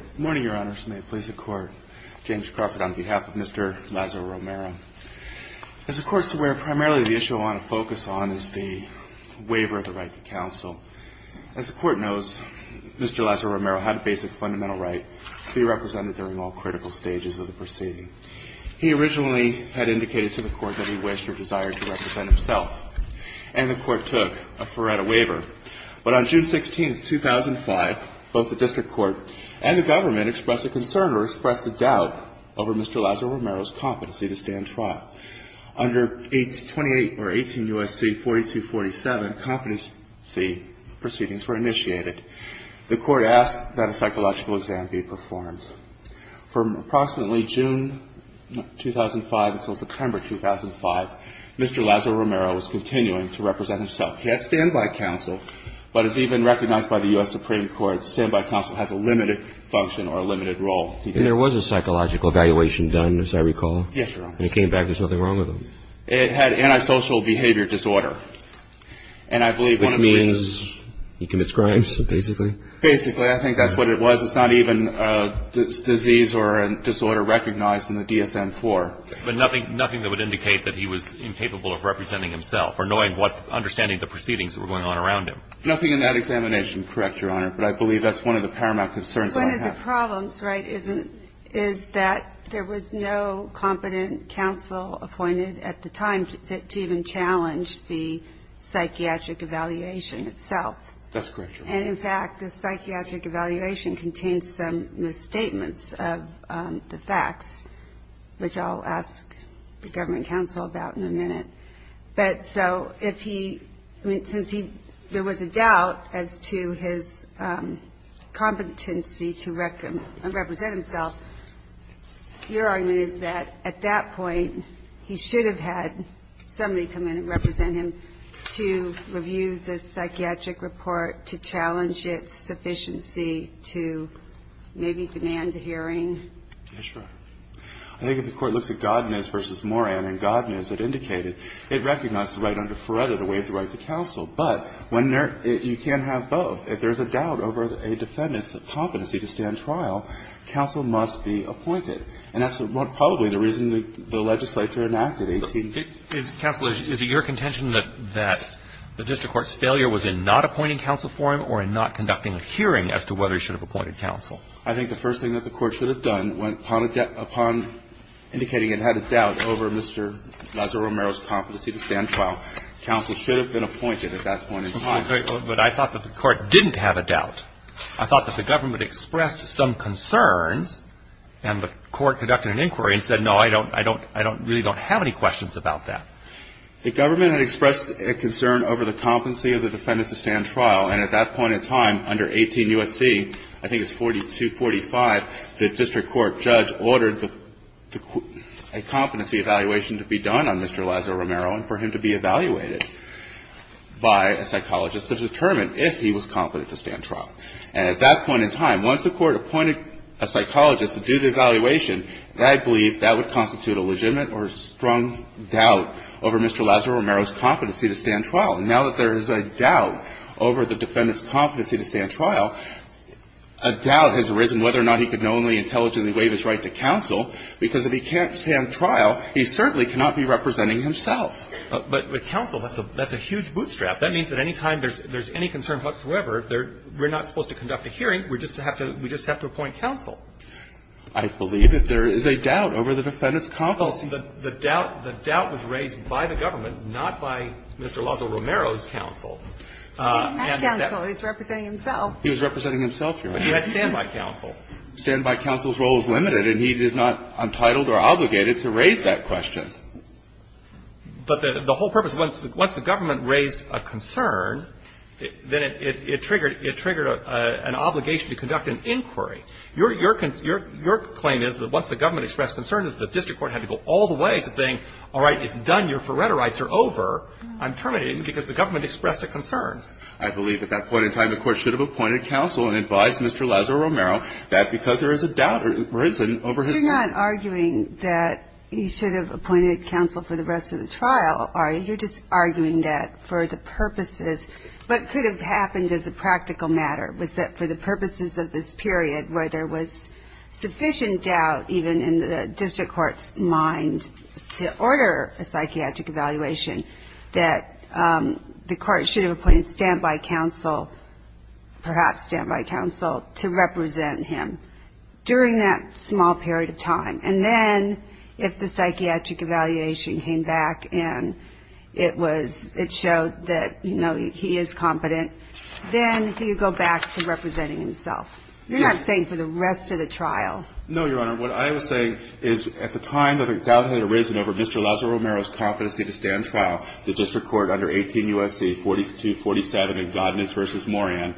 Good morning, Your Honors. May it please the Court. James Crawford on behalf of Mr. Lazo-Romero. As the Court is aware, primarily the issue I want to focus on is the waiver of the right to counsel. As the Court knows, Mr. Lazo-Romero had a basic fundamental right to be represented during all critical stages of the proceeding. He originally had indicated to the Court that he wished or desired to represent himself, and the Court took a Faretta waiver. But on June 16, 2005, both the District Court and the Government expressed a concern or expressed a doubt over Mr. Lazo-Romero's competency to stand trial. Under 18 U.S.C. 4247, competency proceedings were initiated. The Court asked that a psychological exam be performed. From approximately June 2005 until September 2005, Mr. Lazo-Romero was continuing to represent himself. He had standby counsel, but as even recognized by the U.S. Supreme Court, standby counsel has a limited function or a limited role. And there was a psychological evaluation done, as I recall? Yes, Your Honors. And it came back there's nothing wrong with him? It had antisocial behavior disorder. And I believe one of the reasons Which means he commits crimes, basically? Basically. I think that's what it was. It's not even a disease or a disorder recognized in the DSM-IV. But nothing that would indicate that he was incapable of representing himself or knowing what, understanding the proceedings that were going on around him. Nothing in that examination, correct, Your Honor. But I believe that's one of the paramount concerns that I have. One of the problems, right, is that there was no competent counsel appointed at the time to even challenge the psychiatric evaluation itself. That's correct, Your Honor. And, in fact, the psychiatric evaluation contains some misstatements of the facts, which I'll ask the government counsel about in a minute. But so if he – I mean, since there was a doubt as to his competency to represent himself, your argument is that at that point, he should have had somebody come in and represent him to review the psychiatric report, to challenge its sufficiency, to maybe demand a hearing? That's right. I think if the Court looks at Godness v. Moran and Godness, it indicated it recognizes the right under Feretta to waive the right to counsel. But when there – you can't have both. If there's a doubt over a defendant's competency to stand trial, counsel must be appointed. And that's probably the reason the legislature enacted 18- Counsel, is it your contention that the district court's failure was in not appointing counsel for him or in not conducting a hearing as to whether he should have appointed counsel? I think the first thing that the Court should have done upon indicating it had a doubt over Mr. Lazaro-Romero's competency to stand trial, counsel should have been appointed at that point in time. But I thought that the Court didn't have a doubt. I thought that the government expressed some concerns, and the Court conducted an inquiry and said, no, I don't – I don't – I really don't have any questions about that. The government had expressed a concern over the competency of the defendant to stand judge ordered a competency evaluation to be done on Mr. Lazaro-Romero and for him to be evaluated by a psychologist to determine if he was competent to stand trial. And at that point in time, once the Court appointed a psychologist to do the evaluation, I believe that would constitute a legitimate or strong doubt over Mr. Lazaro-Romero's competency to stand trial. And now that there is a doubt over the defendant's competency to stand trial, I believe that would constitute a legitimate or strong Now, the question is whether or not Mr. Lazaro-Romero's competency to stand trial has arisen, whether or not he can only intelligently waive his right to counsel, because if he can't stand trial, he certainly cannot be representing himself. But counsel, that's a huge bootstrap. That means that any time there's any concern whatsoever, we're not supposed to conduct a hearing. We just have to appoint counsel. I believe that there is a doubt over the defendant's competency. The doubt was raised by the government, not by Mr. Lazaro-Romero's counsel. He was representing himself. He was representing himself, Your Honor. But he had standby counsel. Standby counsel's role is limited, and he is not entitled or obligated to raise that question. But the whole purpose, once the government raised a concern, then it triggered an obligation to conduct an inquiry. Your claim is that once the government expressed concern, that the district court had to go all the way to saying, all right, it's done. Your Faretto rights are over. I'm terminating you because the government expressed a concern. I believe at that point in time the Court should have appointed counsel and advised Mr. Lazaro-Romero that because there is a doubt arisen over his competency. You're not arguing that he should have appointed counsel for the rest of the trial, are you? You're just arguing that for the purposes. What could have happened as a practical matter was that for the purposes of this period where there was sufficient doubt even in the district court's mind to order a psychiatric evaluation, that the court should have appointed standby counsel, perhaps standby counsel, to represent him during that small period of time. And then if the psychiatric evaluation came back and it showed that, you know, he is competent, then he would go back to representing himself. You're not saying for the rest of the trial. No, Your Honor. What I was saying is at the time that a doubt had arisen over Mr. Lazaro-Romero's competency to stand trial, the district court under 18 U.S.C. 4247, and Godness v. Moran,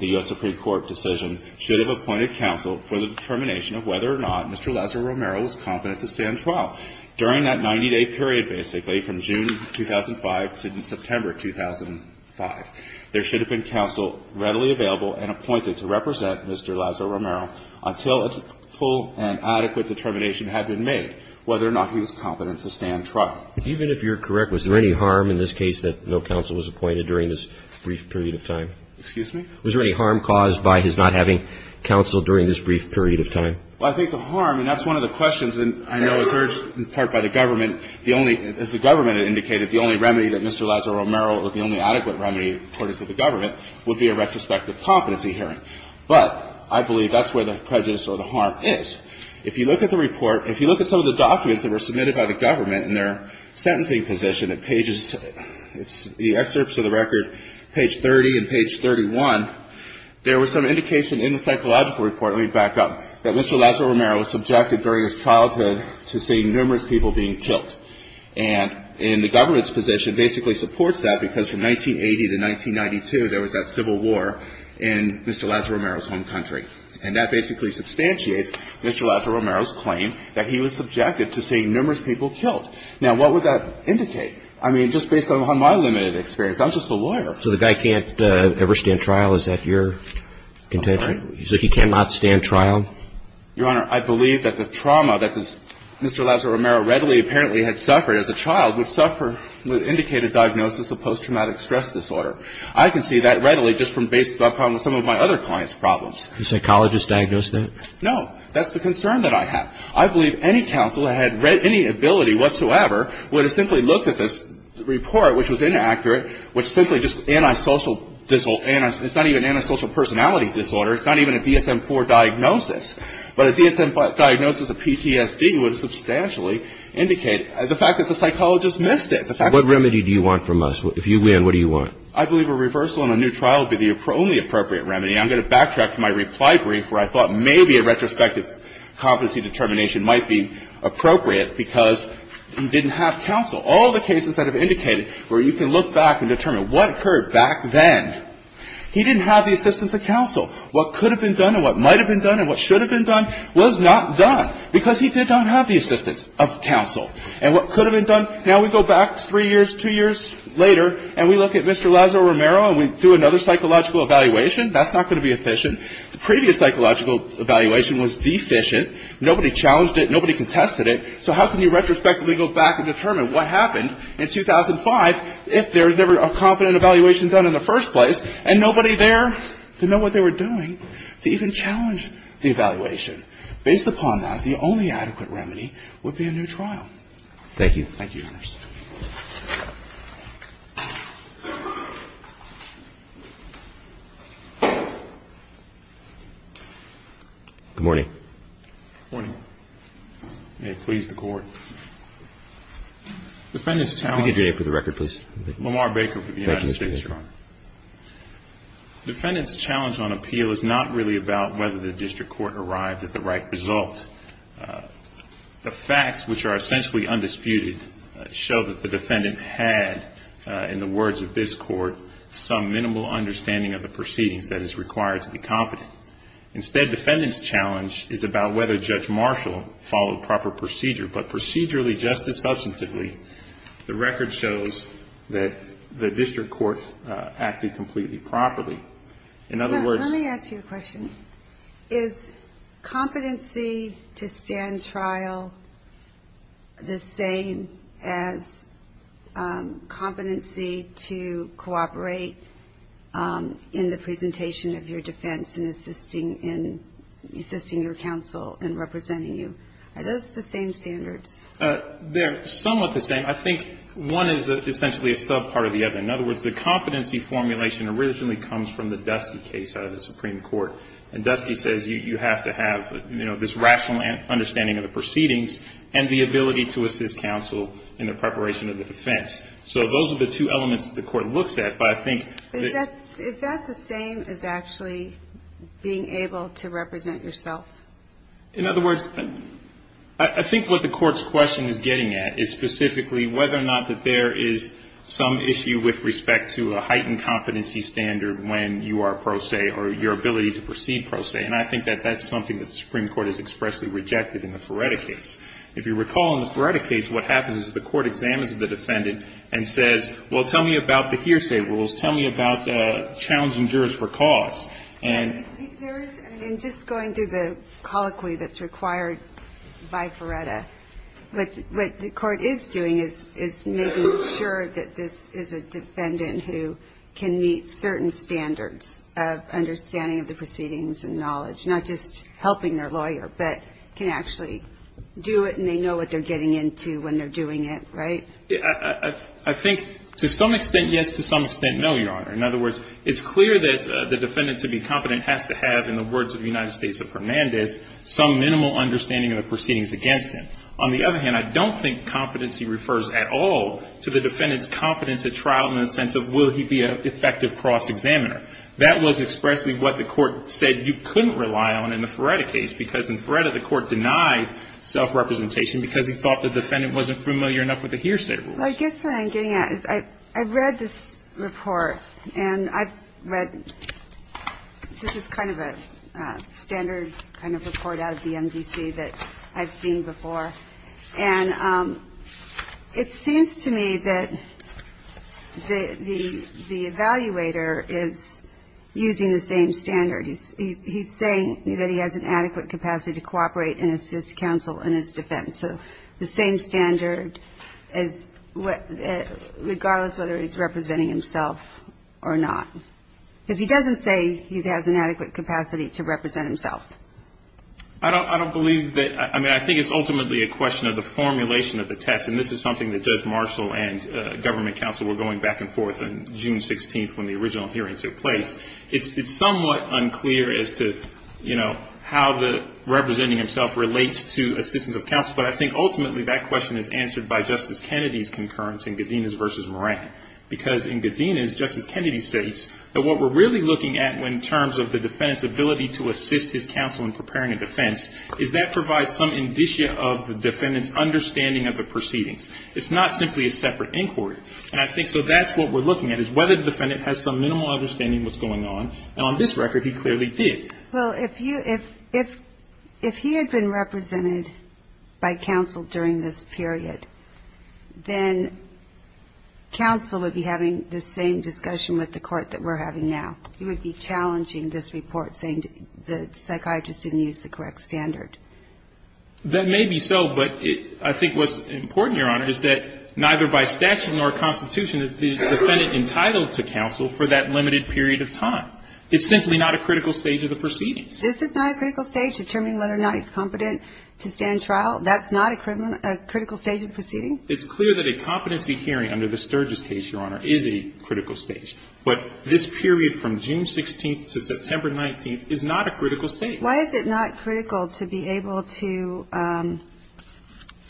the U.S. Supreme Court decision, should have appointed counsel for the determination of whether or not Mr. Lazaro-Romero was competent to stand trial during that 90-day period, basically, from June 2005 to September 2005. There should have been counsel readily available and appointed to represent Mr. Lazaro-Romero until a full and adequate determination had been made whether or not he was competent to stand trial. Even if you're correct, was there any harm in this case that no counsel was appointed during this brief period of time? Excuse me? Was there any harm caused by his not having counsel during this brief period of time? Well, I think the harm, and that's one of the questions I know is urged in part by the government, the only, as the government indicated, the only remedy that Mr. Lazaro-Romero or the only adequate remedy, according to the government, would be a retrospective competency hearing. But I believe that's where the prejudice or the harm is. If you look at the report, if you look at some of the documents that were submitted by the government in their sentencing position at pages, it's the excerpts of the There was some indication in the psychological report, let me back up, that Mr. Lazaro-Romero was subjected during his childhood to seeing numerous people being killed. And in the government's position basically supports that because from 1980 to 1992, there was that civil war in Mr. Lazaro-Romero's home country. And that basically substantiates Mr. Lazaro-Romero's claim that he was subjected to seeing numerous people killed. Now, what would that indicate? It would indicate that Mr. Lazaro-Romero was subjected to seeing numerous people It would indicate that Mr. Lazaro-Romero was subjected to seeing numerous people being killed. So the guy can't ever stand trial? Is that your contention? Okay. So he cannot stand trial? Your Honor, I believe that the trauma that Mr. Lazaro-Romero readily apparently had suffered as a child would suffer with indicated diagnosis of post-traumatic stress disorder. I can see that readily just from based upon some of my other clients' problems. Did a psychologist diagnose that? No. That's the concern that I have. I believe any counsel that had read any ability whatsoever would have simply looked at this report, which was inaccurate, which simply just anti-social disorder. It's not even anti-social personality disorder. It's not even a DSM-IV diagnosis. But a DSM-IV diagnosis of PTSD would substantially indicate the fact that the psychologist missed it. What remedy do you want from us? If you win, what do you want? I believe a reversal in a new trial would be the only appropriate remedy. I'm going to backtrack to my reply brief where I thought maybe a retrospective competency determination might be appropriate because he didn't have counsel. All the cases that have indicated where you can look back and determine what occurred back then, he didn't have the assistance of counsel. What could have been done and what might have been done and what should have been done was not done because he did not have the assistance of counsel. And what could have been done, now we go back three years, two years later, and we look at Mr. Lazaro-Romero and we do another psychological evaluation. That's not going to be efficient. The previous psychological evaluation was deficient. Nobody challenged it. Nobody contested it. So how can you retrospectively go back and determine what happened in 2005 if there was never a competent evaluation done in the first place and nobody there to know what they were doing to even challenge the evaluation? Based upon that, the only adequate remedy would be a new trial. Thank you. Good morning. Good morning. May it please the Court. Defendant's challenge... Can we get your name for the record, please? Lamar Baker for the United States, Your Honor. Thank you, Mr. Baker. Defendant's challenge on appeal is not really about whether the district court arrived at the right result. The facts, which are essentially undisputed, show that the defendant had, in the words of this Court, some minimal understanding of the proceedings that is required to be competent. Instead, defendant's challenge is about whether Judge Marshall followed proper procedure. But procedurally, just as substantively, the record shows that the district court acted completely properly. In other words... I have a question. Is competency to stand trial the same as competency to cooperate in the presentation of your defense and assisting your counsel in representing you? Are those the same standards? They're somewhat the same. I think one is essentially a subpart of the other. In other words, the competency formulation originally comes from the Dusty case out of the Supreme Court. And Dusty says you have to have this rational understanding of the proceedings and the ability to assist counsel in the preparation of the defense. So those are the two elements that the Court looks at. But I think... Is that the same as actually being able to represent yourself? In other words, I think what the Court's question is getting at is specifically whether or not that there is some issue with respect to a heightened competency standard when you are pro se or your ability to proceed pro se. And I think that that's something that the Supreme Court has expressly rejected in the Feretta case. If you recall, in the Feretta case, what happens is the Court examines the defendant and says, well, tell me about the hearsay rules. Tell me about challenging jurors for cause. And... There is, and just going through the colloquy that's required by Feretta, what the defendant who can meet certain standards of understanding of the proceedings and knowledge, not just helping their lawyer, but can actually do it and they know what they're getting into when they're doing it, right? I think to some extent, yes. To some extent, no, Your Honor. In other words, it's clear that the defendant to be competent has to have, in the words of the United States of Hernandez, some minimal understanding of the proceedings against him. On the other hand, I don't think competency refers at all to the defendant's competence at trial in the sense of will he be an effective cross-examiner. That was expressly what the Court said you couldn't rely on in the Feretta case because in Feretta the Court denied self-representation because he thought the defendant wasn't familiar enough with the hearsay rules. Well, I guess what I'm getting at is I've read this report and I've read, this is kind of a standard kind of report out of the MDC that I've seen before, and it seems to me that the evaluator is using the same standard. He's saying that he has an adequate capacity to cooperate and assist counsel in his defense. So the same standard regardless of whether he's representing himself or not. Because he doesn't say he has an adequate capacity to represent himself. I don't believe that, I mean, I think it's ultimately a question of the formulation of the text, and this is something that Judge Marshall and government counsel were going back and forth on June 16th when the original hearings took place. It's somewhat unclear as to, you know, how the representing himself relates to assistance of counsel, but I think ultimately that question is answered by Justice Kennedy's concurrence in Godinez v. Moran. Because in Godinez, Justice Kennedy states that what we're really looking at in terms of the defendant's ability to assist his counsel in preparing a defense, is that provides some indicia of the defendant's understanding of the proceedings. It's not simply a separate inquiry. And I think so that's what we're looking at, is whether the defendant has some minimal understanding of what's going on, and on this record he clearly did. Well, if he had been represented by counsel during this period, then counsel would be having the same discussion with the court that we're having now. He would be challenging this report, saying the psychiatrist didn't use the correct standard. That may be so, but I think what's important, Your Honor, is that neither by statute nor constitution is the defendant entitled to counsel for that limited period of time. It's simply not a critical stage of the proceedings. This is not a critical stage determining whether or not he's competent to stand trial. That's not a critical stage of the proceeding? It's clear that a competency hearing under the Sturgis case, Your Honor, is a critical stage. But this period from June 16th to September 19th is not a critical stage. Why is it not critical to be able to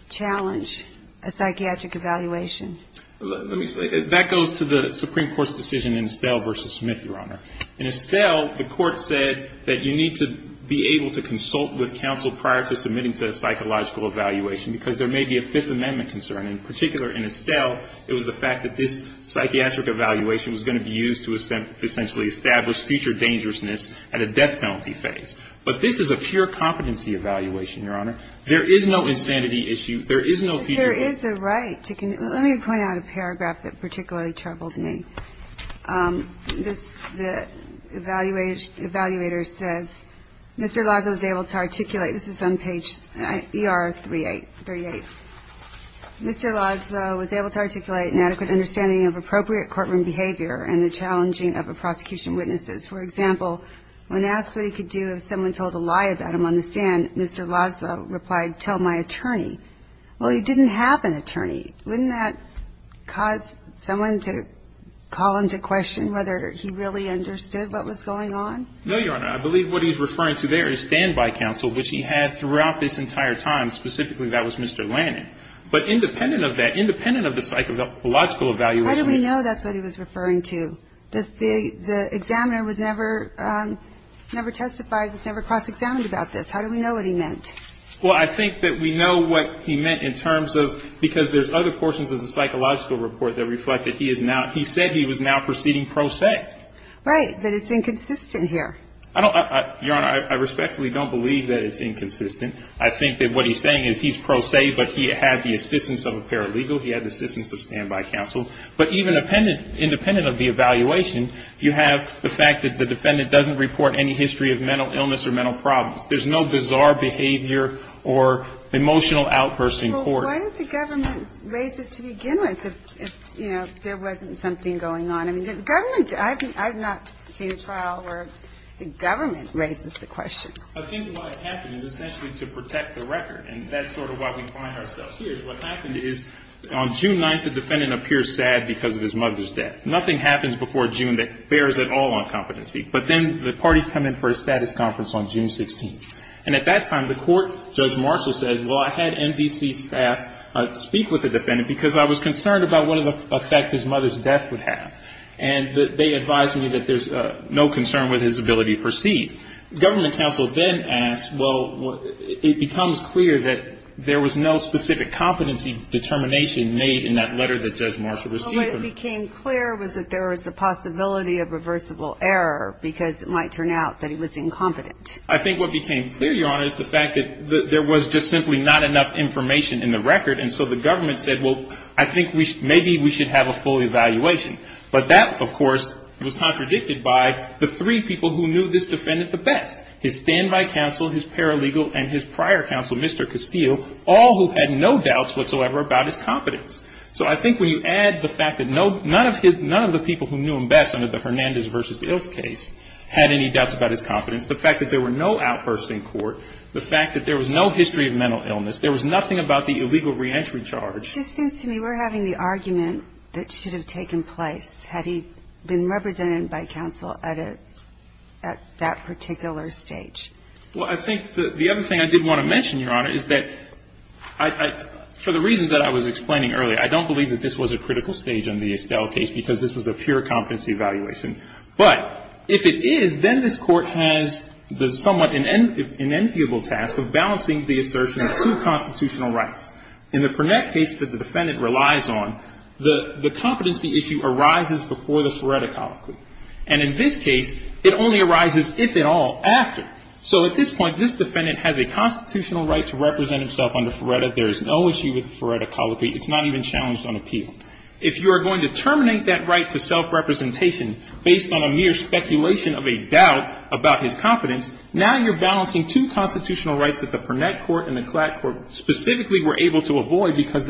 challenge a psychiatric evaluation? Let me explain. That goes to the Supreme Court's decision in Estelle v. Smith, Your Honor. In Estelle, the court said that you need to be able to consult with counsel prior to submitting to a psychological evaluation, because there may be a Fifth Amendment concern. In particular, in Estelle, it was the fact that this psychiatric evaluation was going to be used to essentially establish future dangerousness at a death penalty phase. But this is a pure competency evaluation, Your Honor. There is no insanity issue. There is no future danger. There is a right. Let me point out a paragraph that particularly troubled me. The evaluator says, Mr. Laszlo was able to articulate an adequate understanding of appropriate courtroom behavior and the challenging of prosecution witnesses. For example, when asked what he could do if someone told a lie about him on the stand, Mr. Laszlo replied, tell my attorney. Well, he didn't have an attorney. Wouldn't that cause someone to call into question whether he really understood what was going on? No, Your Honor. I believe what he's referring to there is standby counsel, which he had throughout this entire time. Specifically, that was Mr. Lannan. But independent of that, independent of the psychological evaluation. How do we know that's what he was referring to? The examiner was never, never testified, was never cross-examined about this. How do we know what he meant? Well, I think that we know what he meant in terms of, because there's other portions of the psychological report that reflect that he is now, he said he was now proceeding pro se. Right. But it's inconsistent here. I don't, Your Honor, I respectfully don't believe that it's inconsistent. I think that what he's saying is he's pro se, but he had the assistance of a paralegal. He had the assistance of standby counsel. But even independent of the evaluation, you have the fact that the defendant doesn't report any history of mental illness or mental problems. There's no bizarre behavior or emotional outbursts in court. Well, why didn't the government raise it to begin with if, you know, there wasn't something going on? I mean, the government, I've not seen a trial where the government raises the question. I think what happened is essentially to protect the record. And that's sort of why we find ourselves here. What happened is on June 9th, the defendant appears sad because of his mother's death. Nothing happens before June that bears at all on competency. But then the parties come in for a status conference on June 16th. And at that time, the court, Judge Marshall says, well, I had MDC staff speak with the defendant because I was concerned about what effect his mother's death would have. And they advised me that there's no concern with his ability to proceed. Government counsel then asks, well, it becomes clear that there was no specific competency determination made in that letter that Judge Marshall received from him. Well, what became clear was that there was a possibility of reversible error because it might turn out that he was incompetent. I think what became clear, Your Honor, is the fact that there was just simply not enough information in the record. And so the government said, well, I think maybe we should have a full evaluation. But that, of course, was contradicted by the three people who knew this defendant the best, his standby counsel, his paralegal, and his prior counsel, Mr. Castile, all who had no doubts whatsoever about his competence. So I think when you add the fact that none of the people who knew him best under the Hernandez v. Il's case had any doubts about his competence, the fact that there were no outbursts in court, the fact that there was no history of mental illness, there was nothing about the illegal reentry charge. It just seems to me we're having the argument that should have taken place had he been represented by counsel at a, at that particular stage. Well, I think the other thing I did want to mention, Your Honor, is that I, for the reasons that I was explaining earlier, I don't believe that this was a critical stage in the Estelle case because this was a pure competency evaluation. But if it is, then this Court has the somewhat inenviable task of balancing the assertion of two constitutional rights. In the Purnett case that the defendant relies on, the competency issue arises before the Feretta colloquy. And in this case, it only arises, if at all, after. So at this point, this defendant has a constitutional right to represent himself under Feretta. There is no issue with the Feretta colloquy. It's not even challenged on appeal. If you are going to terminate that right to self-representation based on a mere now you're balancing two constitutional rights that the Purnett court and the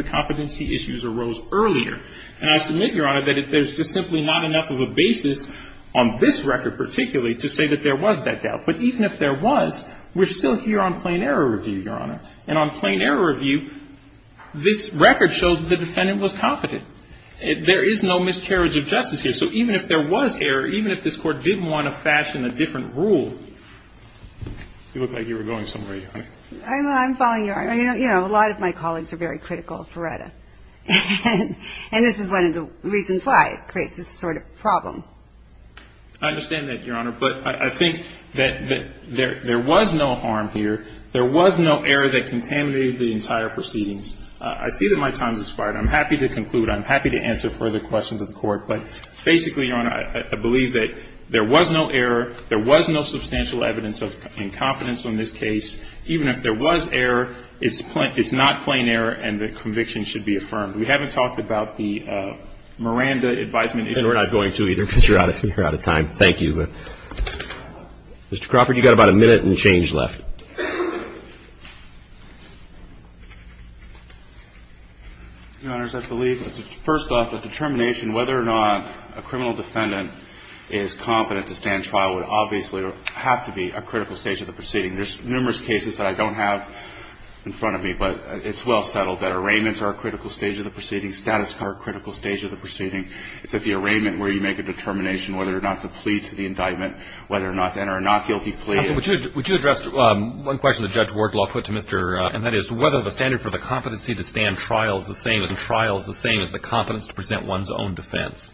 competency issues arose earlier. And I submit, Your Honor, that there's just simply not enough of a basis on this record particularly to say that there was that doubt. But even if there was, we're still here on plain error review, Your Honor. And on plain error review, this record shows that the defendant was competent. There is no miscarriage of justice here. So even if there was error, even if this Court didn't want to fashion a different rule, you look like you were going somewhere, Your Honor. I'm following Your Honor. You know, a lot of my colleagues are very critical of Feretta. And this is one of the reasons why it creates this sort of problem. I understand that, Your Honor. But I think that there was no harm here. There was no error that contaminated the entire proceedings. I see that my time has expired. I'm happy to conclude. I'm happy to answer further questions of the Court. But basically, Your Honor, I believe that there was no error. There was no substantial evidence of incompetence on this case. Even if there was error, it's not plain error and the conviction should be affirmed. We haven't talked about the Miranda advisement. And we're not going to either, because you're out of time. Thank you. Mr. Crawford, you've got about a minute and change left. Your Honors, I believe, first off, the determination whether or not a criminal defendant is competent to stand trial would obviously have to be a critical stage of the proceeding. There's numerous cases that I don't have in front of me, but it's well settled that arraignments are a critical stage of the proceeding, status card critical stage of the proceeding. It's at the arraignment where you make a determination whether or not to plead to the indictment, whether or not to enter a not guilty plea. Would you address one question that Judge Wardlaw put to Mr. And that is, whether the standard for the competency to stand trial is the same as the competence to present one's own defense.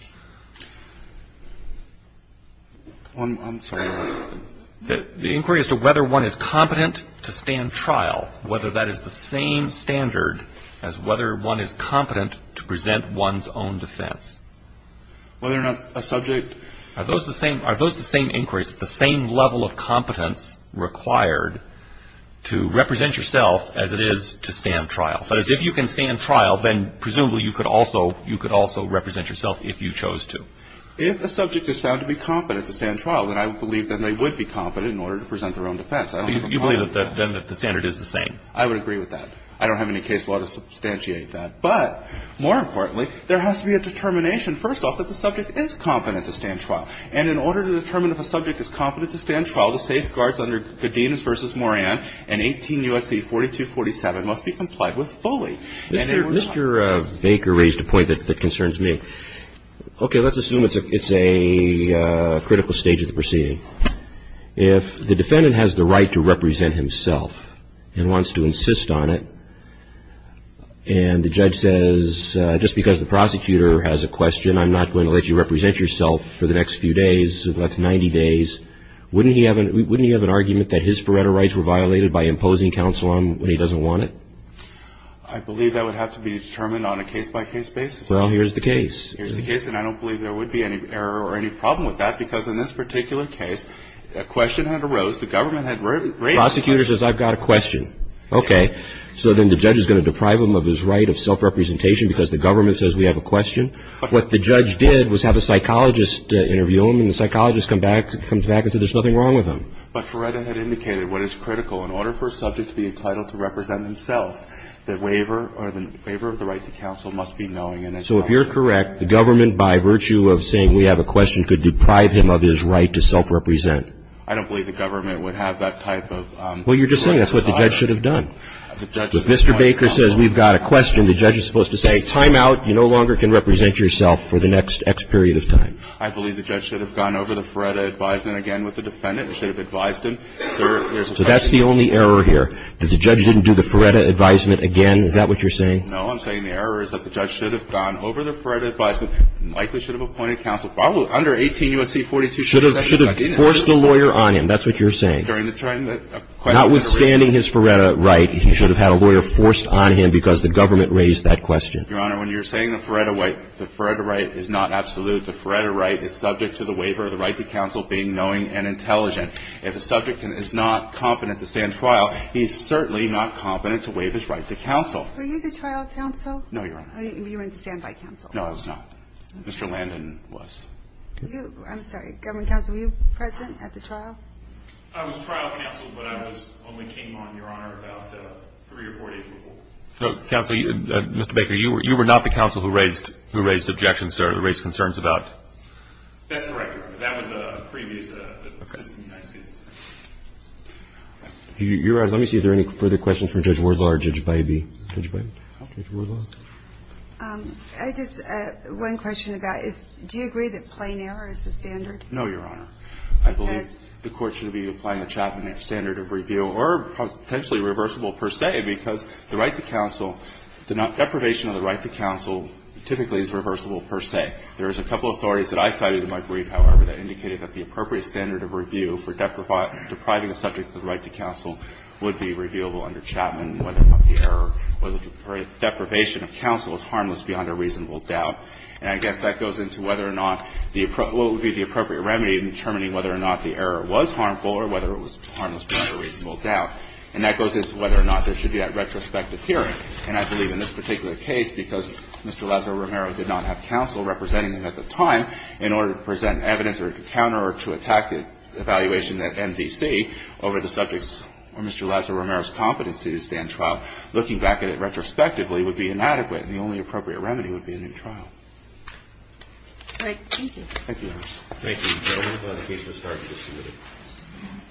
I'm sorry. The inquiry as to whether one is competent to stand trial, whether that is the same standard as whether one is competent to present one's own defense. Whether or not a subject. Are those the same inquiries, the same level of competence required to represent yourself as it is to stand trial. That is, if you can stand trial, then presumably you could also represent yourself if you chose to. If a subject is found to be competent to stand trial, then I believe that they would be competent in order to present their own defense. I don't have a problem with that. You believe then that the standard is the same. I would agree with that. I don't have any case law to substantiate that. But more importantly, there has to be a determination, first off, that the subject is competent to stand trial. And in order to determine if a subject is competent to stand trial, the safeguards under Godinez v. Moran and 18 U.S.C. 4247 must be complied with fully. Mr. Baker raised a point that concerns me. Okay. Let's assume it's a critical stage of the proceeding. If the defendant has the right to represent himself and wants to insist on it, and the judge says, just because the prosecutor has a question, I'm not going to let you represent yourself for the next few days, that's 90 days, wouldn't he have an argument that his forerunner rights were violated by imposing counsel on him when he doesn't want it? I believe that would have to be determined on a case-by-case basis. Well, here's the case. Here's the case, and I don't believe there would be any error or any problem with that, because in this particular case, a question had arose. The government had raised it. The prosecutor says, I've got a question. Okay. So then the judge is going to deprive him of his right of self-representation because the government says we have a question. What the judge did was have a psychologist interview him, and the psychologist comes back and says there's nothing wrong with him. But Feretta had indicated what is critical. In order for a subject to be entitled to represent himself, the waiver or the waiver of the right to counsel must be knowing and accountable. So if you're correct, the government, by virtue of saying we have a question, could deprive him of his right to self-represent. I don't believe the government would have that type of. Well, you're just saying that's what the judge should have done. If Mr. Baker says we've got a question, the judge is supposed to say, time out, you no longer can represent yourself for the next X period of time. I believe the judge should have gone over the Feretta advisement again with the defendant. He should have advised him. There's a question. So that's the only error here, that the judge didn't do the Feretta advisement again. Is that what you're saying? No. I'm saying the error is that the judge should have gone over the Feretta advisement and likely should have appointed counsel, probably under 18 U.S.C. 42. Should have forced a lawyer on him. That's what you're saying. Notwithstanding his Feretta right, he should have had a lawyer forced on him because the government raised that question. Your Honor, when you're saying the Feretta right, the Feretta right is not absolute. The Feretta right is subject to the waiver of the right to counsel being knowing and intelligent. If a subject is not competent to stand trial, he's certainly not competent to waive his right to counsel. Were you the trial counsel? No, Your Honor. You were the standby counsel. No, I was not. Mr. Landon was. I'm sorry. Government counsel, were you present at the trial? I was trial counsel, but I only came on, Your Honor, about three or four days before. Counsel, Mr. Baker, you were not the counsel who raised objections or raised concerns about? That's correct. That was a previous assistant U.S.C. assistant. Your Honor, let me see if there are any further questions from Judge Wardlaw or Judge Bybee. Judge Bybee? Judge Wardlaw? I just, one question I've got is, do you agree that plain error is the standard? No, Your Honor. I believe the Court should be applying the Chapman standard of review or potentially reversible per se because the right to counsel, deprivation of the right to counsel typically is reversible per se. There is a couple of authorities that I cited in my brief, however, that indicated that the appropriate standard of review for depriving a subject of the right to counsel would be reviewable under Chapman whether or not the error or the deprivation of counsel is harmless beyond a reasonable doubt. And I guess that goes into whether or not the appropriate remedy in determining whether or not the error was harmful or whether it was harmless beyond a reasonable doubt. And that goes into whether or not there should be that retrospective hearing. And I believe in this particular case, because Mr. Lazaro-Romero did not have counsel representing him at the time, in order to present evidence or to counter or to attack the evaluation at MDC over the subject's or Mr. Lazaro-Romero's competency to stand trial, looking back at it retrospectively would be inadequate, and the only appropriate remedy would be a new trial. All right. Thank you. Thank you, Your Honor. Thank you, gentlemen. The case will start at this committee.